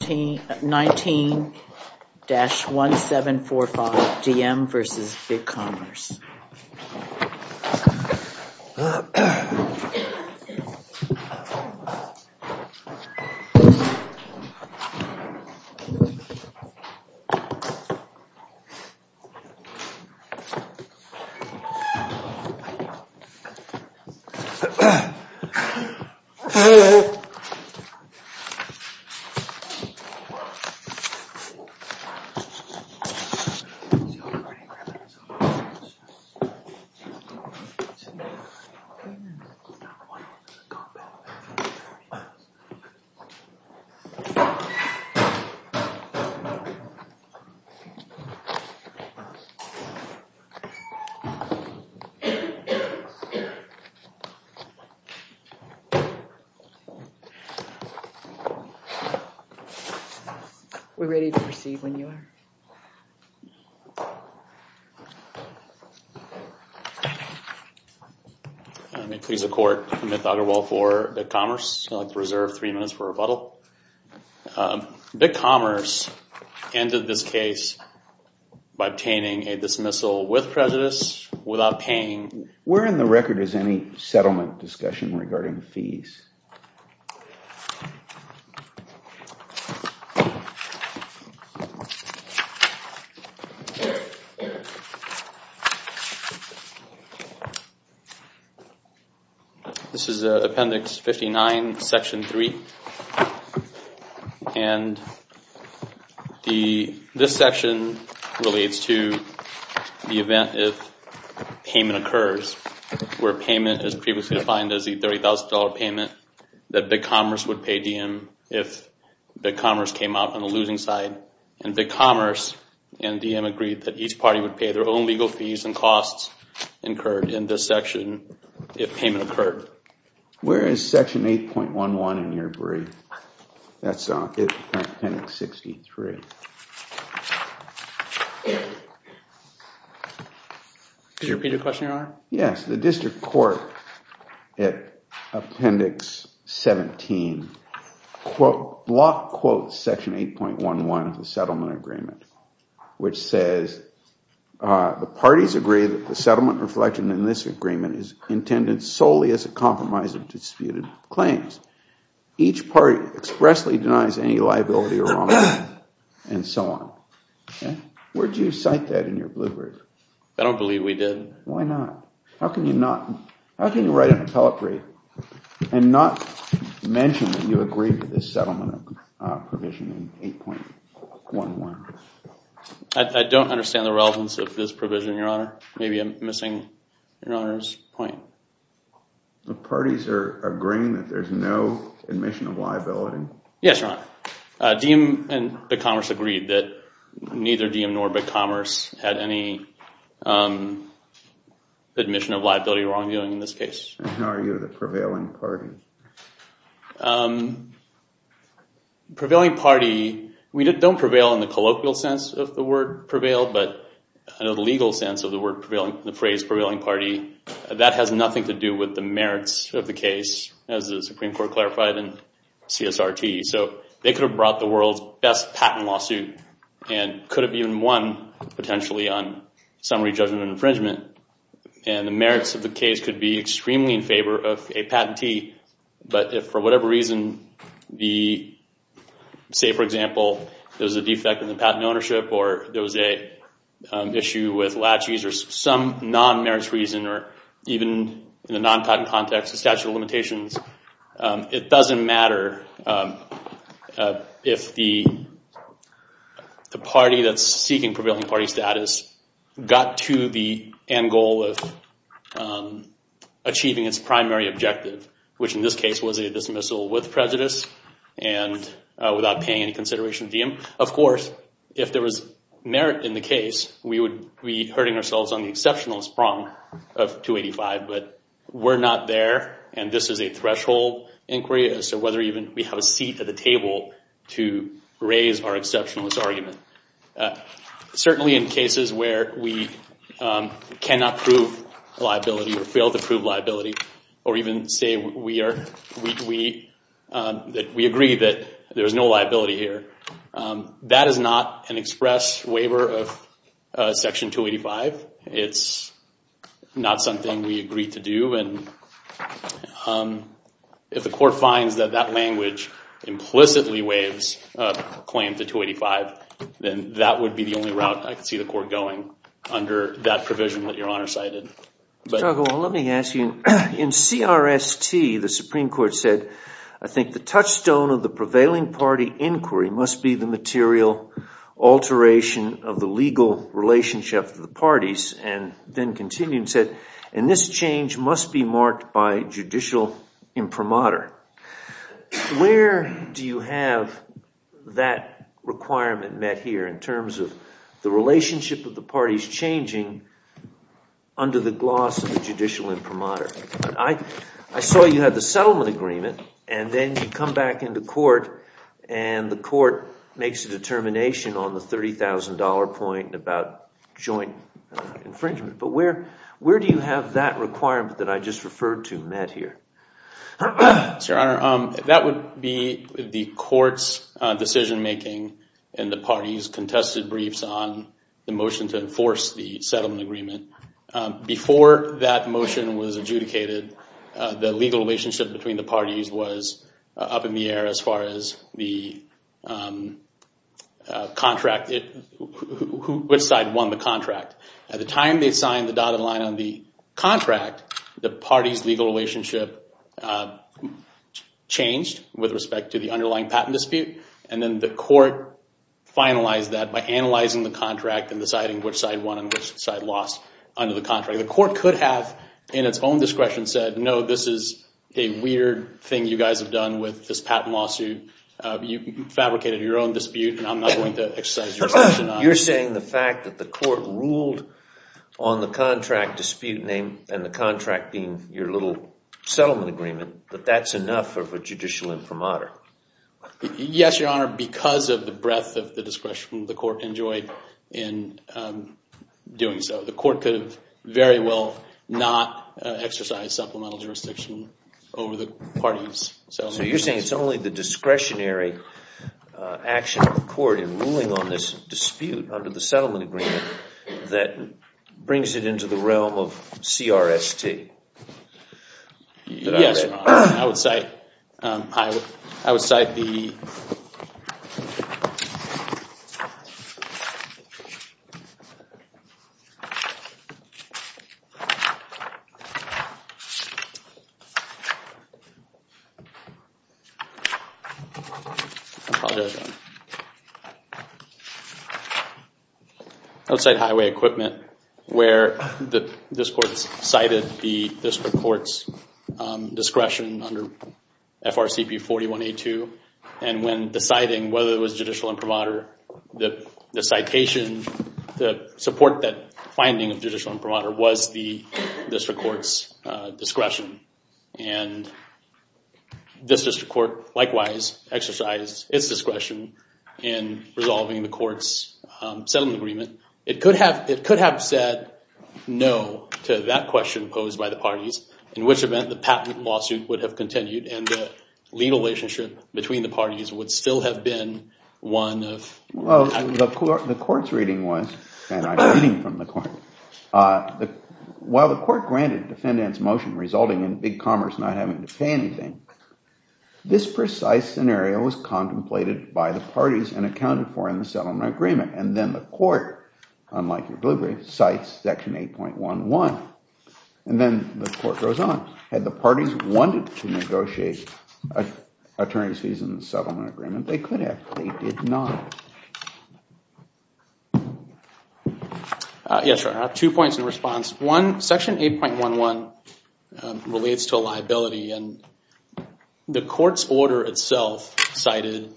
19-1745, DM v. BigCommerce. 9-1-1, 9-1-1, 9-1-1, 9-1-1, 9-1-1. We're ready to proceed when you are. May it please the court, Amit Thakarwal for BigCommerce. I'd like to reserve three minutes for rebuttal. BigCommerce ended this case by obtaining a dismissal with prejudice without paying... Where in the record is any settlement discussion regarding fees? This is Appendix 59, Section 3. And this section relates to the event if payment occurs where payment is previously defined as the $30,000 payment that BigCommerce would pay DM if BigCommerce came out on the losing side and BigCommerce and DM agreed that each party would pay their own legal fees and costs incurred in this section if payment occurred. Where is Section 8.11 in your brief? That's Appendix 63. Could you repeat your question, Your Honor? Yes. The district court at Appendix 17 block quotes Section 8.11 of the settlement agreement which says the parties agree that the settlement reflection in this agreement is intended solely as a compromise of disputed claims. Each party expressly denies any liability or wrongdoing and so on. Where do you cite that in your blue brief? I don't believe we did. Why not? How can you write an appellate brief and not mention that you agreed to this settlement provision in 8.11? I don't understand the relevance of this provision, Your Honor. Maybe I'm missing Your Honor's point. The parties are agreeing that there's no admission of liability? Yes, Your Honor. DiEM and BigCommerce agreed that neither DiEM nor BigCommerce had any admission of liability or wrongdoing in this case. How are you the prevailing party? Prevailing party, we don't prevail in the colloquial sense of the word prevail, but I know the legal sense of the phrase prevailing party. That has nothing to do with the merits of the case as the Supreme Court clarified in CSRT. They could have brought the world's best patent lawsuit and could have even won potentially on summary judgment and infringement. The merits of the case could be extremely in favor of a patentee, but if for whatever reason, say for example, there was a defect in the patent ownership or there was an issue with latches or some non-merits reason or even in a non-patent context, a statute of limitations, it doesn't matter if the party that's seeking prevailing party status got to the end goal of achieving its primary objective, which in this case was a dismissal with prejudice and without paying any consideration to DiEM. Of course, if there was merit in the case, we would be hurting ourselves on the exceptionalist prong of 285, but we're not there, and this is a threshold inquiry. So whether even we have a seat at the table to raise our exceptionalist argument. Certainly in cases where we cannot prove liability or fail to prove liability or even say we agree that there is no liability here, that is not an express waiver of Section 285. It's not something we agreed to do, and if the court finds that that language implicitly waives a claim to 285, then that would be the only route I could see the court going under that provision that Your Honor cited. Let me ask you, in CRST, the Supreme Court said, I think the touchstone of the prevailing party inquiry must be the material alteration of the legal relationship of the parties, and then continued and said, and this change must be marked by judicial imprimatur. Where do you have that requirement met here in terms of the relationship of the parties changing under the gloss of the judicial imprimatur? I saw you had the settlement agreement, and then you come back into court, and the court makes a determination on the $30,000 point about joint infringement. But where do you have that requirement that I just referred to met here? Your Honor, that would be the court's decision-making and the parties' contested briefs on the motion to enforce the settlement agreement. Before that motion was adjudicated, the legal relationship between the parties was up in the air as far as which side won the contract. At the time they signed the dotted line on the contract, the parties' legal relationship changed with respect to the underlying patent dispute. And then the court finalized that by analyzing the contract and deciding which side won and which side lost under the contract. The court could have, in its own discretion, said, no, this is a weird thing you guys have done with this patent lawsuit. You fabricated your own dispute, and I'm not going to exercise your discretion on it. You're saying the fact that the court ruled on the contract dispute name and the contract being your little settlement agreement, that that's enough of a judicial imprimatur? Yes, Your Honor, because of the breadth of the discretion the court enjoyed in doing so. The court could have very well not exercised supplemental jurisdiction over the parties' settlement agreements. So you're saying it's only the discretionary action of the court in ruling on this dispute under the settlement agreement that brings it into the realm of CRST? Yes, Your Honor. I would cite highway equipment where this court cited the district court's discretion under FRCP 4182. And when deciding whether it was judicial imprimatur, the citation to support that finding of judicial imprimatur was the district court's discretion. And this district court, likewise, exercised its discretion in resolving the court's settlement agreement. It could have said no to that question posed by the parties, in which event the patent lawsuit would have continued and the legal relationship between the parties would still have been one of equity. The court's reading was, and I'm reading from the court, while the court granted defendant's motion resulting in Big Commerce not having to pay anything, this precise scenario was contemplated by the parties and accounted for in the settlement agreement. And then the court, unlike your delivery, cites section 8.11. And then the court goes on. Had the parties wanted to negotiate attorney's fees in the settlement agreement, they could have. They did not. Yes, Your Honor. Two points in response. One, section 8.11 relates to a liability. And the court's order itself cited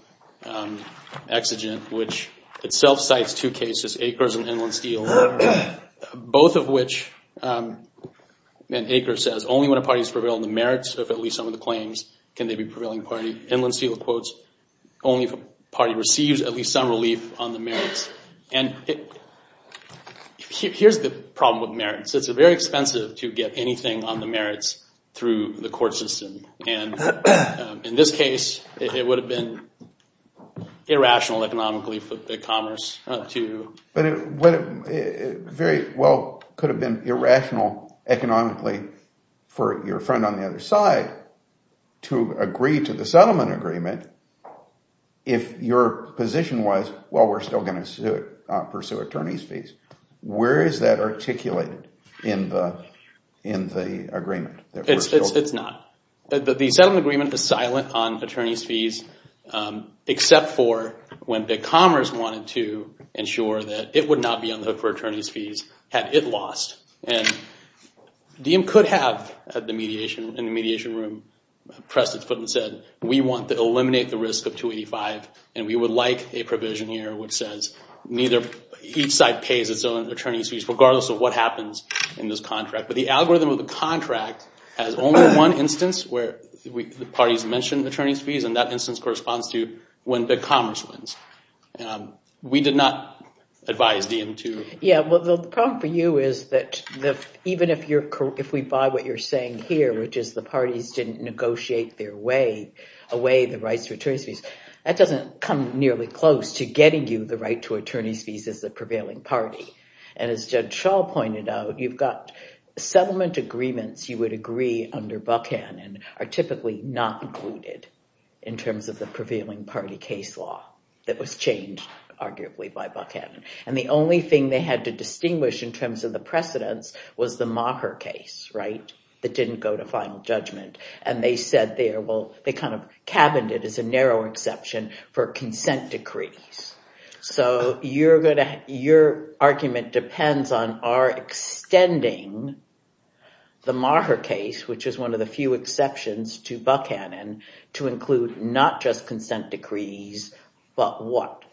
exigent, which itself cites two cases, Acres and Inland Steel. Both of which, Acres says, only when a party has prevailed in the merits of at least some of the claims can they be prevailing party. Inland Steel quotes, only if a party receives at least some relief on the merits. And here's the problem with merits. It's very expensive to get anything on the merits through the court system. And in this case, it would have been irrational economically for the commerce to. But it very well could have been irrational economically for your friend on the other side to agree to the settlement agreement if your position was, well, we're still going to pursue attorney's fees. Where is that articulated in the agreement? It's not. The settlement agreement is silent on attorney's fees except for when the commerce wanted to ensure that it would not be on the hook for attorney's fees had it lost. And DiEM could have, in the mediation room, pressed its foot and said, we want to eliminate the risk of 285 and we would like a provision here which says neither, each side pays its own attorney's fees regardless of what happens in this contract. But the algorithm of the contract has only one instance where the parties mention attorney's fees and that instance corresponds to when the commerce wins. We did not advise DiEM to. Yeah, well, the problem for you is that even if we buy what you're saying here, which is the parties didn't negotiate their way away the rights to attorney's fees, that doesn't come nearly close to getting you the right to attorney's fees as the prevailing party. And as Judge Shaw pointed out, you've got settlement agreements you would agree under Buchanan are typically not included in terms of the prevailing party case law that was changed, arguably, by Buchanan. And the only thing they had to distinguish in terms of the precedence was the Maher case, right, that didn't go to final judgment. And they said there, well, they kind of cabined it as a narrow exception for consent decrees. So your argument depends on our extending the Maher case, which is one of the few exceptions to Buchanan, to include not just consent decrees, but what,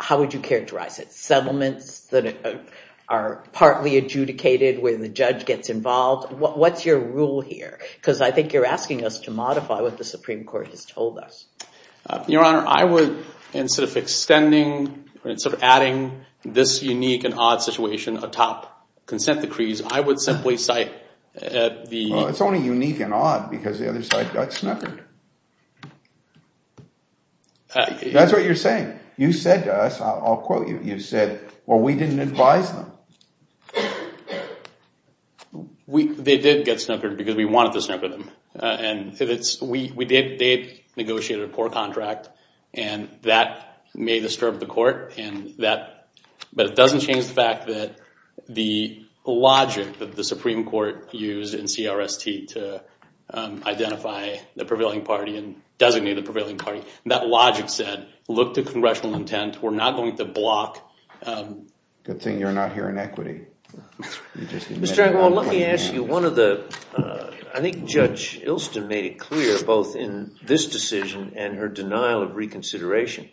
how would you characterize it? Settlements that are partly adjudicated where the judge gets involved? What's your rule here? Because I think you're asking us to modify what the Supreme Court has told us. Your Honor, I would, instead of extending, instead of adding this unique and odd situation atop consent decrees, I would simply cite the... Well, it's only unique and odd because the other side got snookered. That's what you're saying. You said to us, I'll quote you, you said, well, we didn't advise them. They did get snookered because we wanted to snooker them. And we did, they had negotiated a court contract and that may disturb the court, but it doesn't change the fact that the logic that the Supreme Court used in CRST to identify the prevailing party and designate the prevailing party, that logic said, look to congressional intent. We're not going to block... Good thing you're not here in equity. Mr. Engelwald, let me ask you one of the... I think Judge Ilston made it clear, both in this decision and her denial of reconsideration,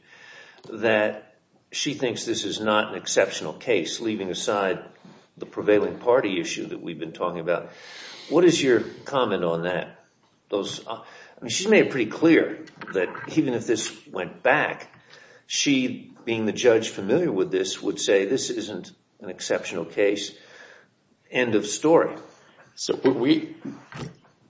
that she thinks this is not an exceptional case, leaving aside the prevailing party issue that we've been talking about. What is your comment on that? She's made it pretty clear that even if this went back, she, being the judge familiar with this, would say this isn't an exceptional case. End of story.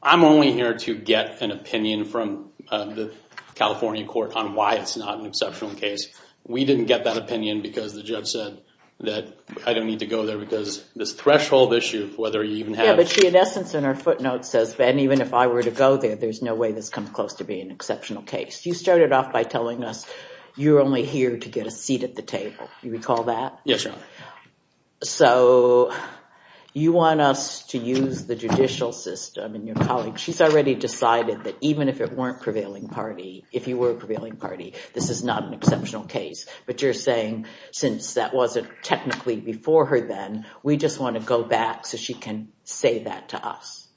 I'm only here to get an opinion from the California court on why it's not an exceptional case. We didn't get that opinion because the judge said that I don't need to go there because this threshold issue, whether you even have... Yeah, but she, in essence, in her footnotes, says, Ben, even if I were to go there, there's no way this comes close to being an exceptional case. You started off by telling us you're only here to get a seat at the table. You recall that? Yes, Your Honor. You want us to use the judicial system, and your colleague, she's already decided that even if it weren't prevailing party, if you were a prevailing party, this is not an exceptional case. But you're saying, since that wasn't technically before her then, we just want to go back so she can say that to us.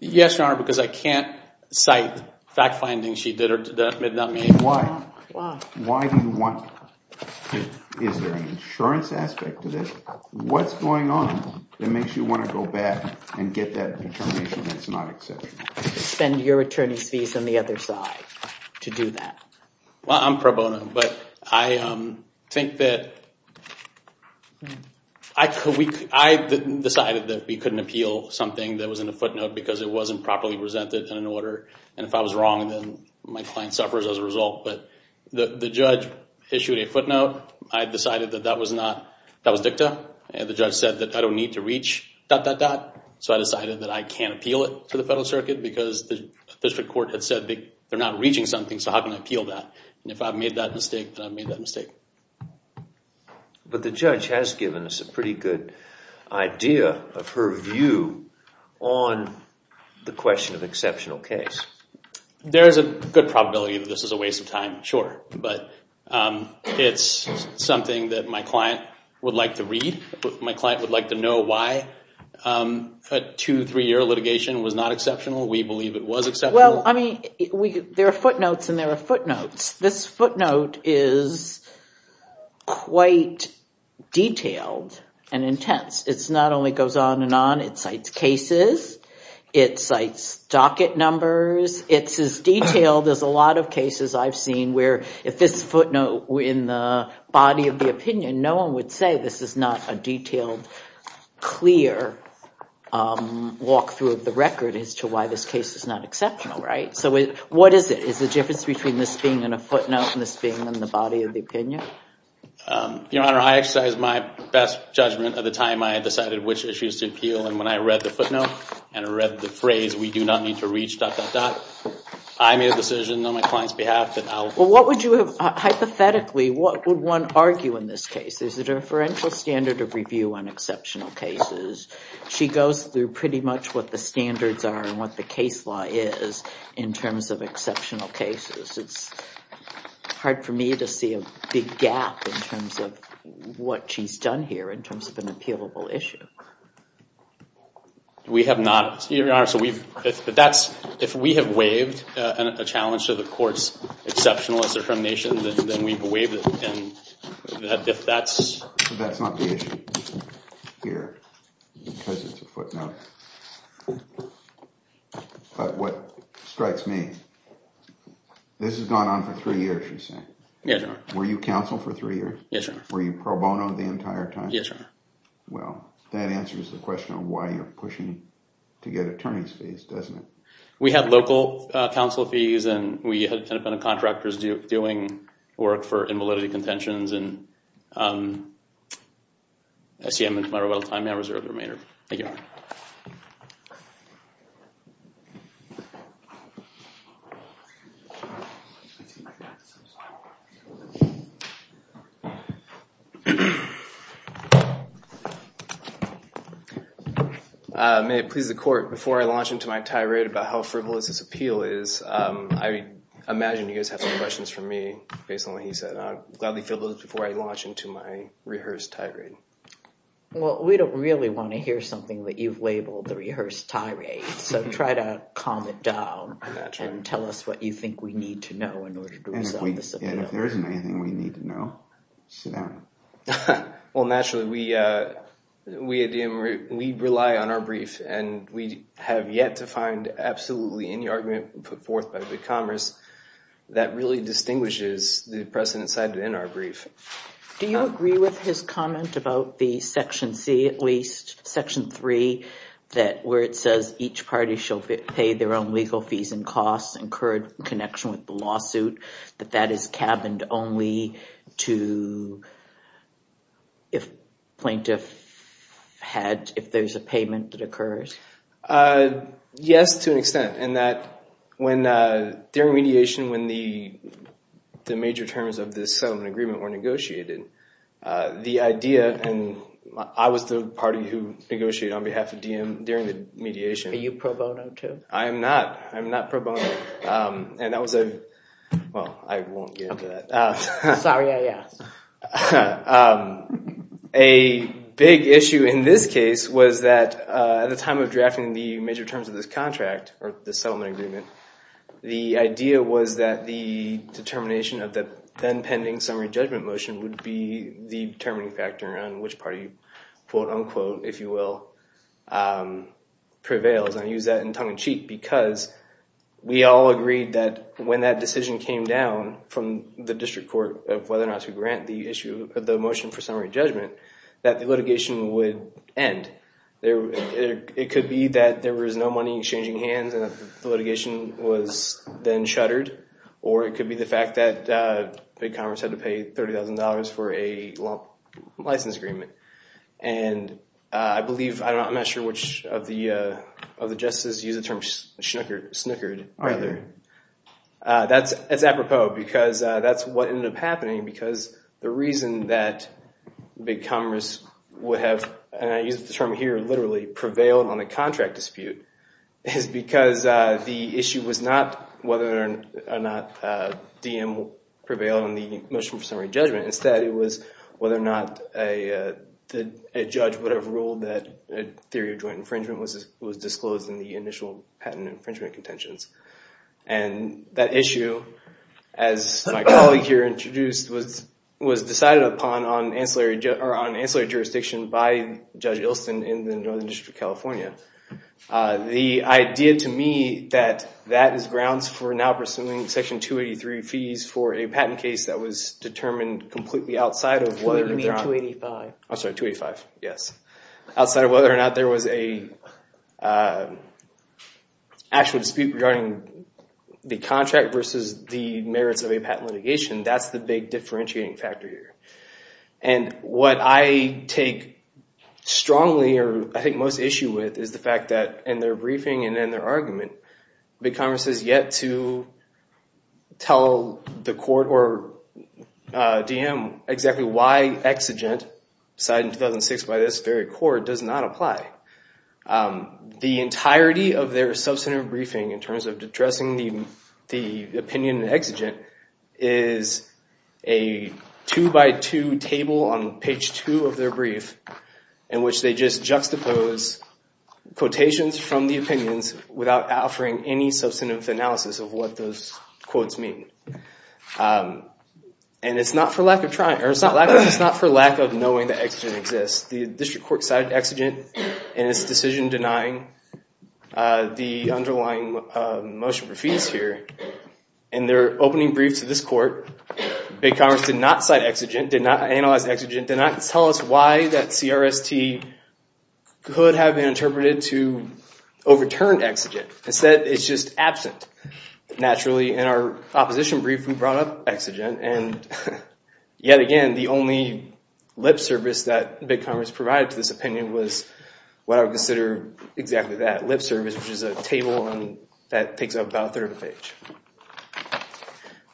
Yes, Your Honor, because I can't cite fact findings she did or did not make. Why? Why do you want... Is there an insurance aspect to this? What's going on that makes you want to go back and get that determination that it's not exceptional? Or spend your attorney's fees on the other side to do that? Well, I'm pro bono. But I think that... I decided that we couldn't appeal something that was in a footnote because it wasn't properly presented in an order. And if I was wrong, then my client suffers as a result. But the judge issued a footnote. I decided that that was not... That was dicta. And the judge said that I don't need to reach dot, dot, dot. So I decided that I can't appeal it to the federal circuit because the district court had said they're not reaching something, so how can I appeal that? And if I've made that mistake, then I've made that mistake. But the judge has given us a pretty good idea of her view on the question of exceptional case. There is a good probability that this is a waste of time, sure. But it's something that my client would like to read. My client would like to know why. A two, three-year litigation was not exceptional. We believe it was exceptional. Well, I mean, there are footnotes, and there are footnotes. This footnote is quite detailed and intense. It not only goes on and on. It cites cases. It cites docket numbers. It's as detailed as a lot of cases I've seen where if this footnote were in the body of the opinion, no one would say this is not a detailed, clear walkthrough of the record as to why this case is not exceptional, right? So what is it? Is the difference between this being in a footnote and this being in the body of the opinion? Your Honor, I exercise my best judgment of the time I had decided which issues to appeal, and when I read the footnote and I read the phrase, we do not need to reach dot, dot, dot, I made a decision on my client's behalf that I'll... Well, what would you have... There's a deferential standard of review on exceptional cases. She goes through pretty much what the standards are and what the case law is in terms of exceptional cases. It's hard for me to see a big gap in terms of what she's done here in terms of an appealable issue. We have not... Your Honor, so we've... If we have waived a challenge to the court's exceptionalist affirmation, then we've waived it, and if that's... That's not the issue here because it's a footnote. But what strikes me, this has gone on for three years, you say? Yes, Your Honor. Were you counsel for three years? Yes, Your Honor. Were you pro bono the entire time? Yes, Your Honor. Well, that answers the question of why you're pushing to get attorney's fees, doesn't it? We had local counsel fees and we had independent contractors doing work for invalidity contentions. I see I'm out of time. I'll reserve the remainder. Thank you. May it please the court, before I launch into my tirade about how frivolous this appeal is, I imagine you guys have some questions for me based on what he said. I'll gladly fill those before I launch into my rehearsed tirade. Well, we don't really want to hear something that you've labeled the rehearsed tirade, so try to calm it down and tell us what you think we need to know in order to resolve this appeal. And if there isn't anything we need to know, sit down. Well, naturally, we rely on our brief and we have yet to find absolutely any argument put forth by the Commerce that really distinguishes the precedent side in our brief. Do you agree with his comment about the Section C at least, Section 3, where it says each party shall pay their own legal fees and costs in connection with the lawsuit, to if plaintiff had, if there's a payment that occurs? Yes, to an extent, in that when, during mediation, when the major terms of this settlement agreement were negotiated, the idea, and I was the party who negotiated on behalf of DiEM during the mediation. Are you pro bono too? I am not. I am not pro bono. And that was a, well, I won't get into that. Sorry I asked. A big issue in this case was that at the time of drafting the major terms of this contract, or this settlement agreement, the idea was that the determination of the then pending summary judgment motion would be the determining factor on which party quote unquote, if you will, prevails. I use that in tongue-in-cheek because we all agreed that when that decision came down from the District Court of whether or not to grant the issue of the motion for summary judgment, that the litigation would end. It could be that there was no money in exchanging hands and the litigation was then shuttered. Or it could be the fact that Big Congress had to pay $30,000 for a license agreement. And I believe, I'm not sure which of the justices used the term snickered. That's apropos because that's what ended up happening because the reason that Big Congress would have, and I use the term here literally, prevailed on the contract dispute is because the issue was not whether or not DM prevailed on the motion for summary judgment. Instead, it was whether or not a judge would have ruled that a theory of joint infringement was disclosed in the initial patent infringement contentions. And that issue, as my colleague here introduced, was decided upon on ancillary jurisdiction by Judge Ilston in the Northern District of California. The idea to me that that is grounds for now pursuing Section 283 fees for a patent case that was determined completely outside of whether or not... Oh sorry, 285, yes. Outside of whether or not there was a actual dispute regarding the contract versus the merits of a patent litigation, that's the big differentiating factor here. And what I take strongly, or I think most issue with, is the fact that in their briefing and in their argument, Big Congress has yet to tell the court or DM exactly why exigent signed in 2006 by this very court does not apply. The entirety of their substantive briefing in terms of addressing the opinion in exigent is a two-by-two table on page two of their brief in which they just juxtapose quotations from the opinions without offering any substantive analysis of what those quotes mean. And it's not for lack of knowing that exigent exists. The district court cited exigent in its decision denying the underlying motion for fees here. In their opening brief to this court, Big Congress did not cite exigent, did not analyze exigent, did not tell us why that CRST could have been interpreted to overturn exigent. Instead, it's just absent, naturally. In our opposition brief, we brought up exigent and yet again, the only lip service that Big Congress provided to this opinion was what I would consider exactly that, lip service, which is a table that takes up about a third of the page.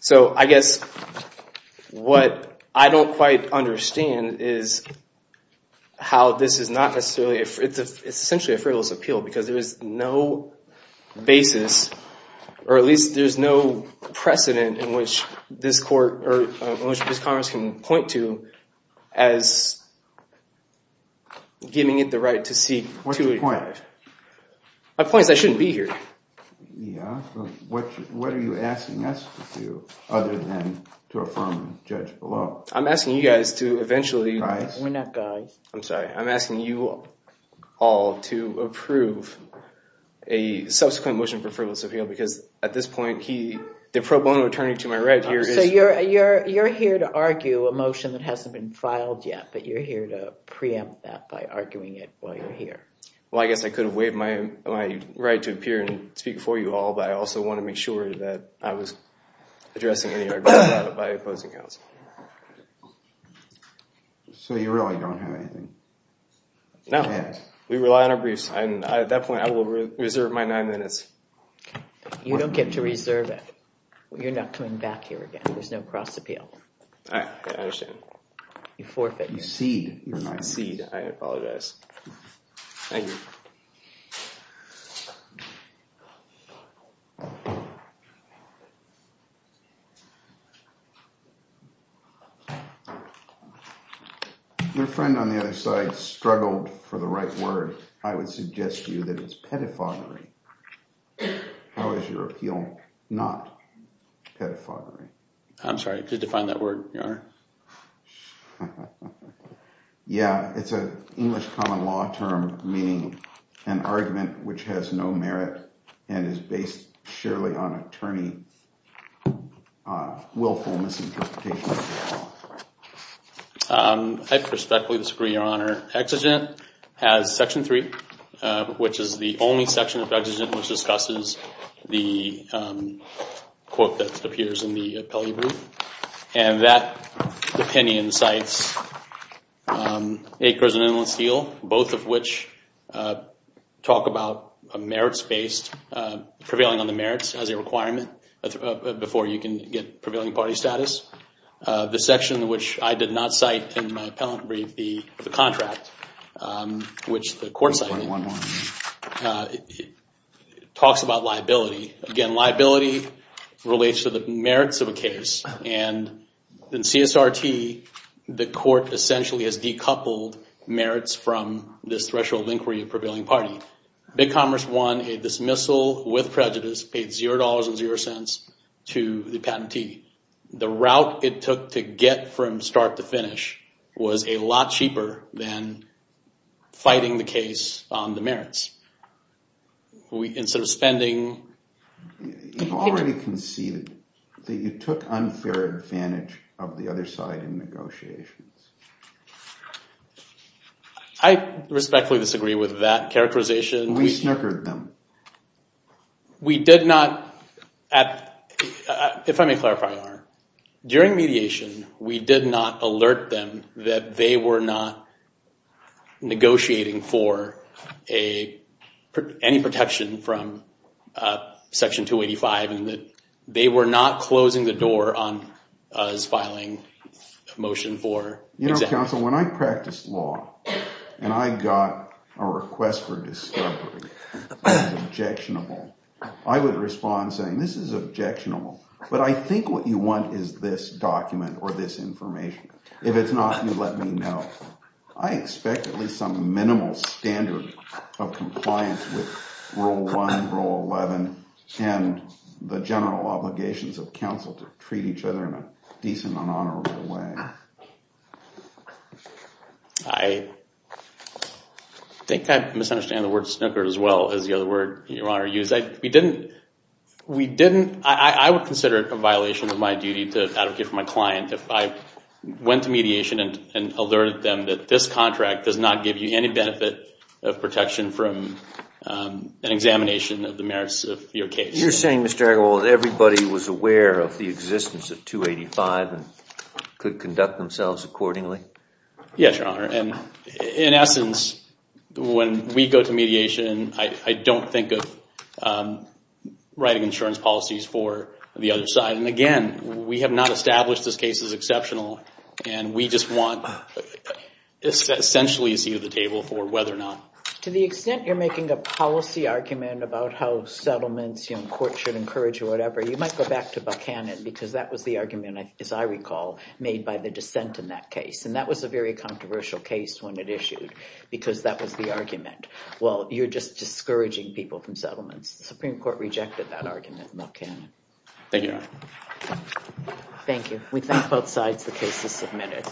So I guess what I don't quite understand is how this is not necessarily essentially a frivolous appeal because there is no basis or at least there's no precedent in which this court or in which this Congress can point to as giving it the right to seek to advise. My point is I shouldn't be here. Yeah, but what are you asking us to do other than to affirm Judge Bellot? I'm asking you guys to eventually... Guys? We're not guys. I'm sorry. I'm asking you all to approve a subsequent motion for frivolous appeal because at this point, the pro bono attorney to my right here is... So you're here to argue a motion that hasn't been filed yet, but you're here to preempt that by arguing it while you're here. Well, I guess I could have waived my right to appear and speak for you all, but I also want to make sure that I was addressing any argument by opposing counsel. So you really don't have anything? No. We rely on our briefs. At that point, I will reserve my nine minutes. You don't get to reserve it. You're not coming back here again. There's no cross appeal. I understand. You forfeit. You cede. You're not cede. I apologize. Thank you. Your friend on the other side struggled for the right word. I would suggest to you that it's pedophagy. How is your appeal not pedophagy? I'm sorry. Did you find that word? Yeah. It's an English common law term, meaning an argument which has no merit and is based purely on willfulness. I respectfully disagree, Your Honor. Exigent has section 3, which is the only section of Exigent which discusses the quote that appears in the appellee brief. And that opinion cites acres and inland steel, both of which talk about merits-based prevailing on the merits as a requirement before you can get prevailing party status. The section which I did not cite in my appellant brief, the contract, talks about liability. Again, liability relates to the merits of a case. In CSRT, the court essentially has decoupled merits from this threshold of inquiry of prevailing party. Big Commerce won a dismissal with prejudice, paid $0.00 to the patentee. The route it took to get from start to finish was a lot cheaper than fighting the case on the merits. Instead of spending... You've already conceded that you took unfair advantage of the other side in negotiations. I respectfully disagree with that characterization. We snickered them. We did not... If I may clarify, during mediation, we did not alert them that they were not negotiating for any protection from Section 285 and that they were not closing the door on us filing a motion for exemption. When I practice law, and I got a request for discovery that was objectionable, I would respond saying, this is objectionable, but I think what you want is this document or this information. If it's not, you let me know. I expect at least some minimal standard of compliance with Rule 1, Rule 11, and the general obligations of counsel to treat each other in a decent and honorable way. I think I misunderstand the word snicker as well as the other word Your Honor used. We didn't... I would consider it a violation of my duty to advocate for my client if I went to mediation and alerted them that this contract does not give you any benefit of protection from an examination of the merits of your case. You're saying, Mr. Argyle, that everybody was aware of the existence of 285 and could conduct themselves accordingly? Yes, Your Honor. In essence, when we go to mediation, I don't think of writing insurance policies for the other side. And again, we have not established this case as exceptional and we just want essentially a seat at the Supreme Court. To the extent you're making a policy argument about how settlements courts should encourage or whatever, you might go back to Buchanan because that was the argument, as I recall, made by the dissent in that case. And that was a very controversial case when it issued because that was the argument. Well, you're just discouraging people from settlements. The Supreme Court rejected that argument in Buchanan. Thank you. We thank both sides. The case is submitted.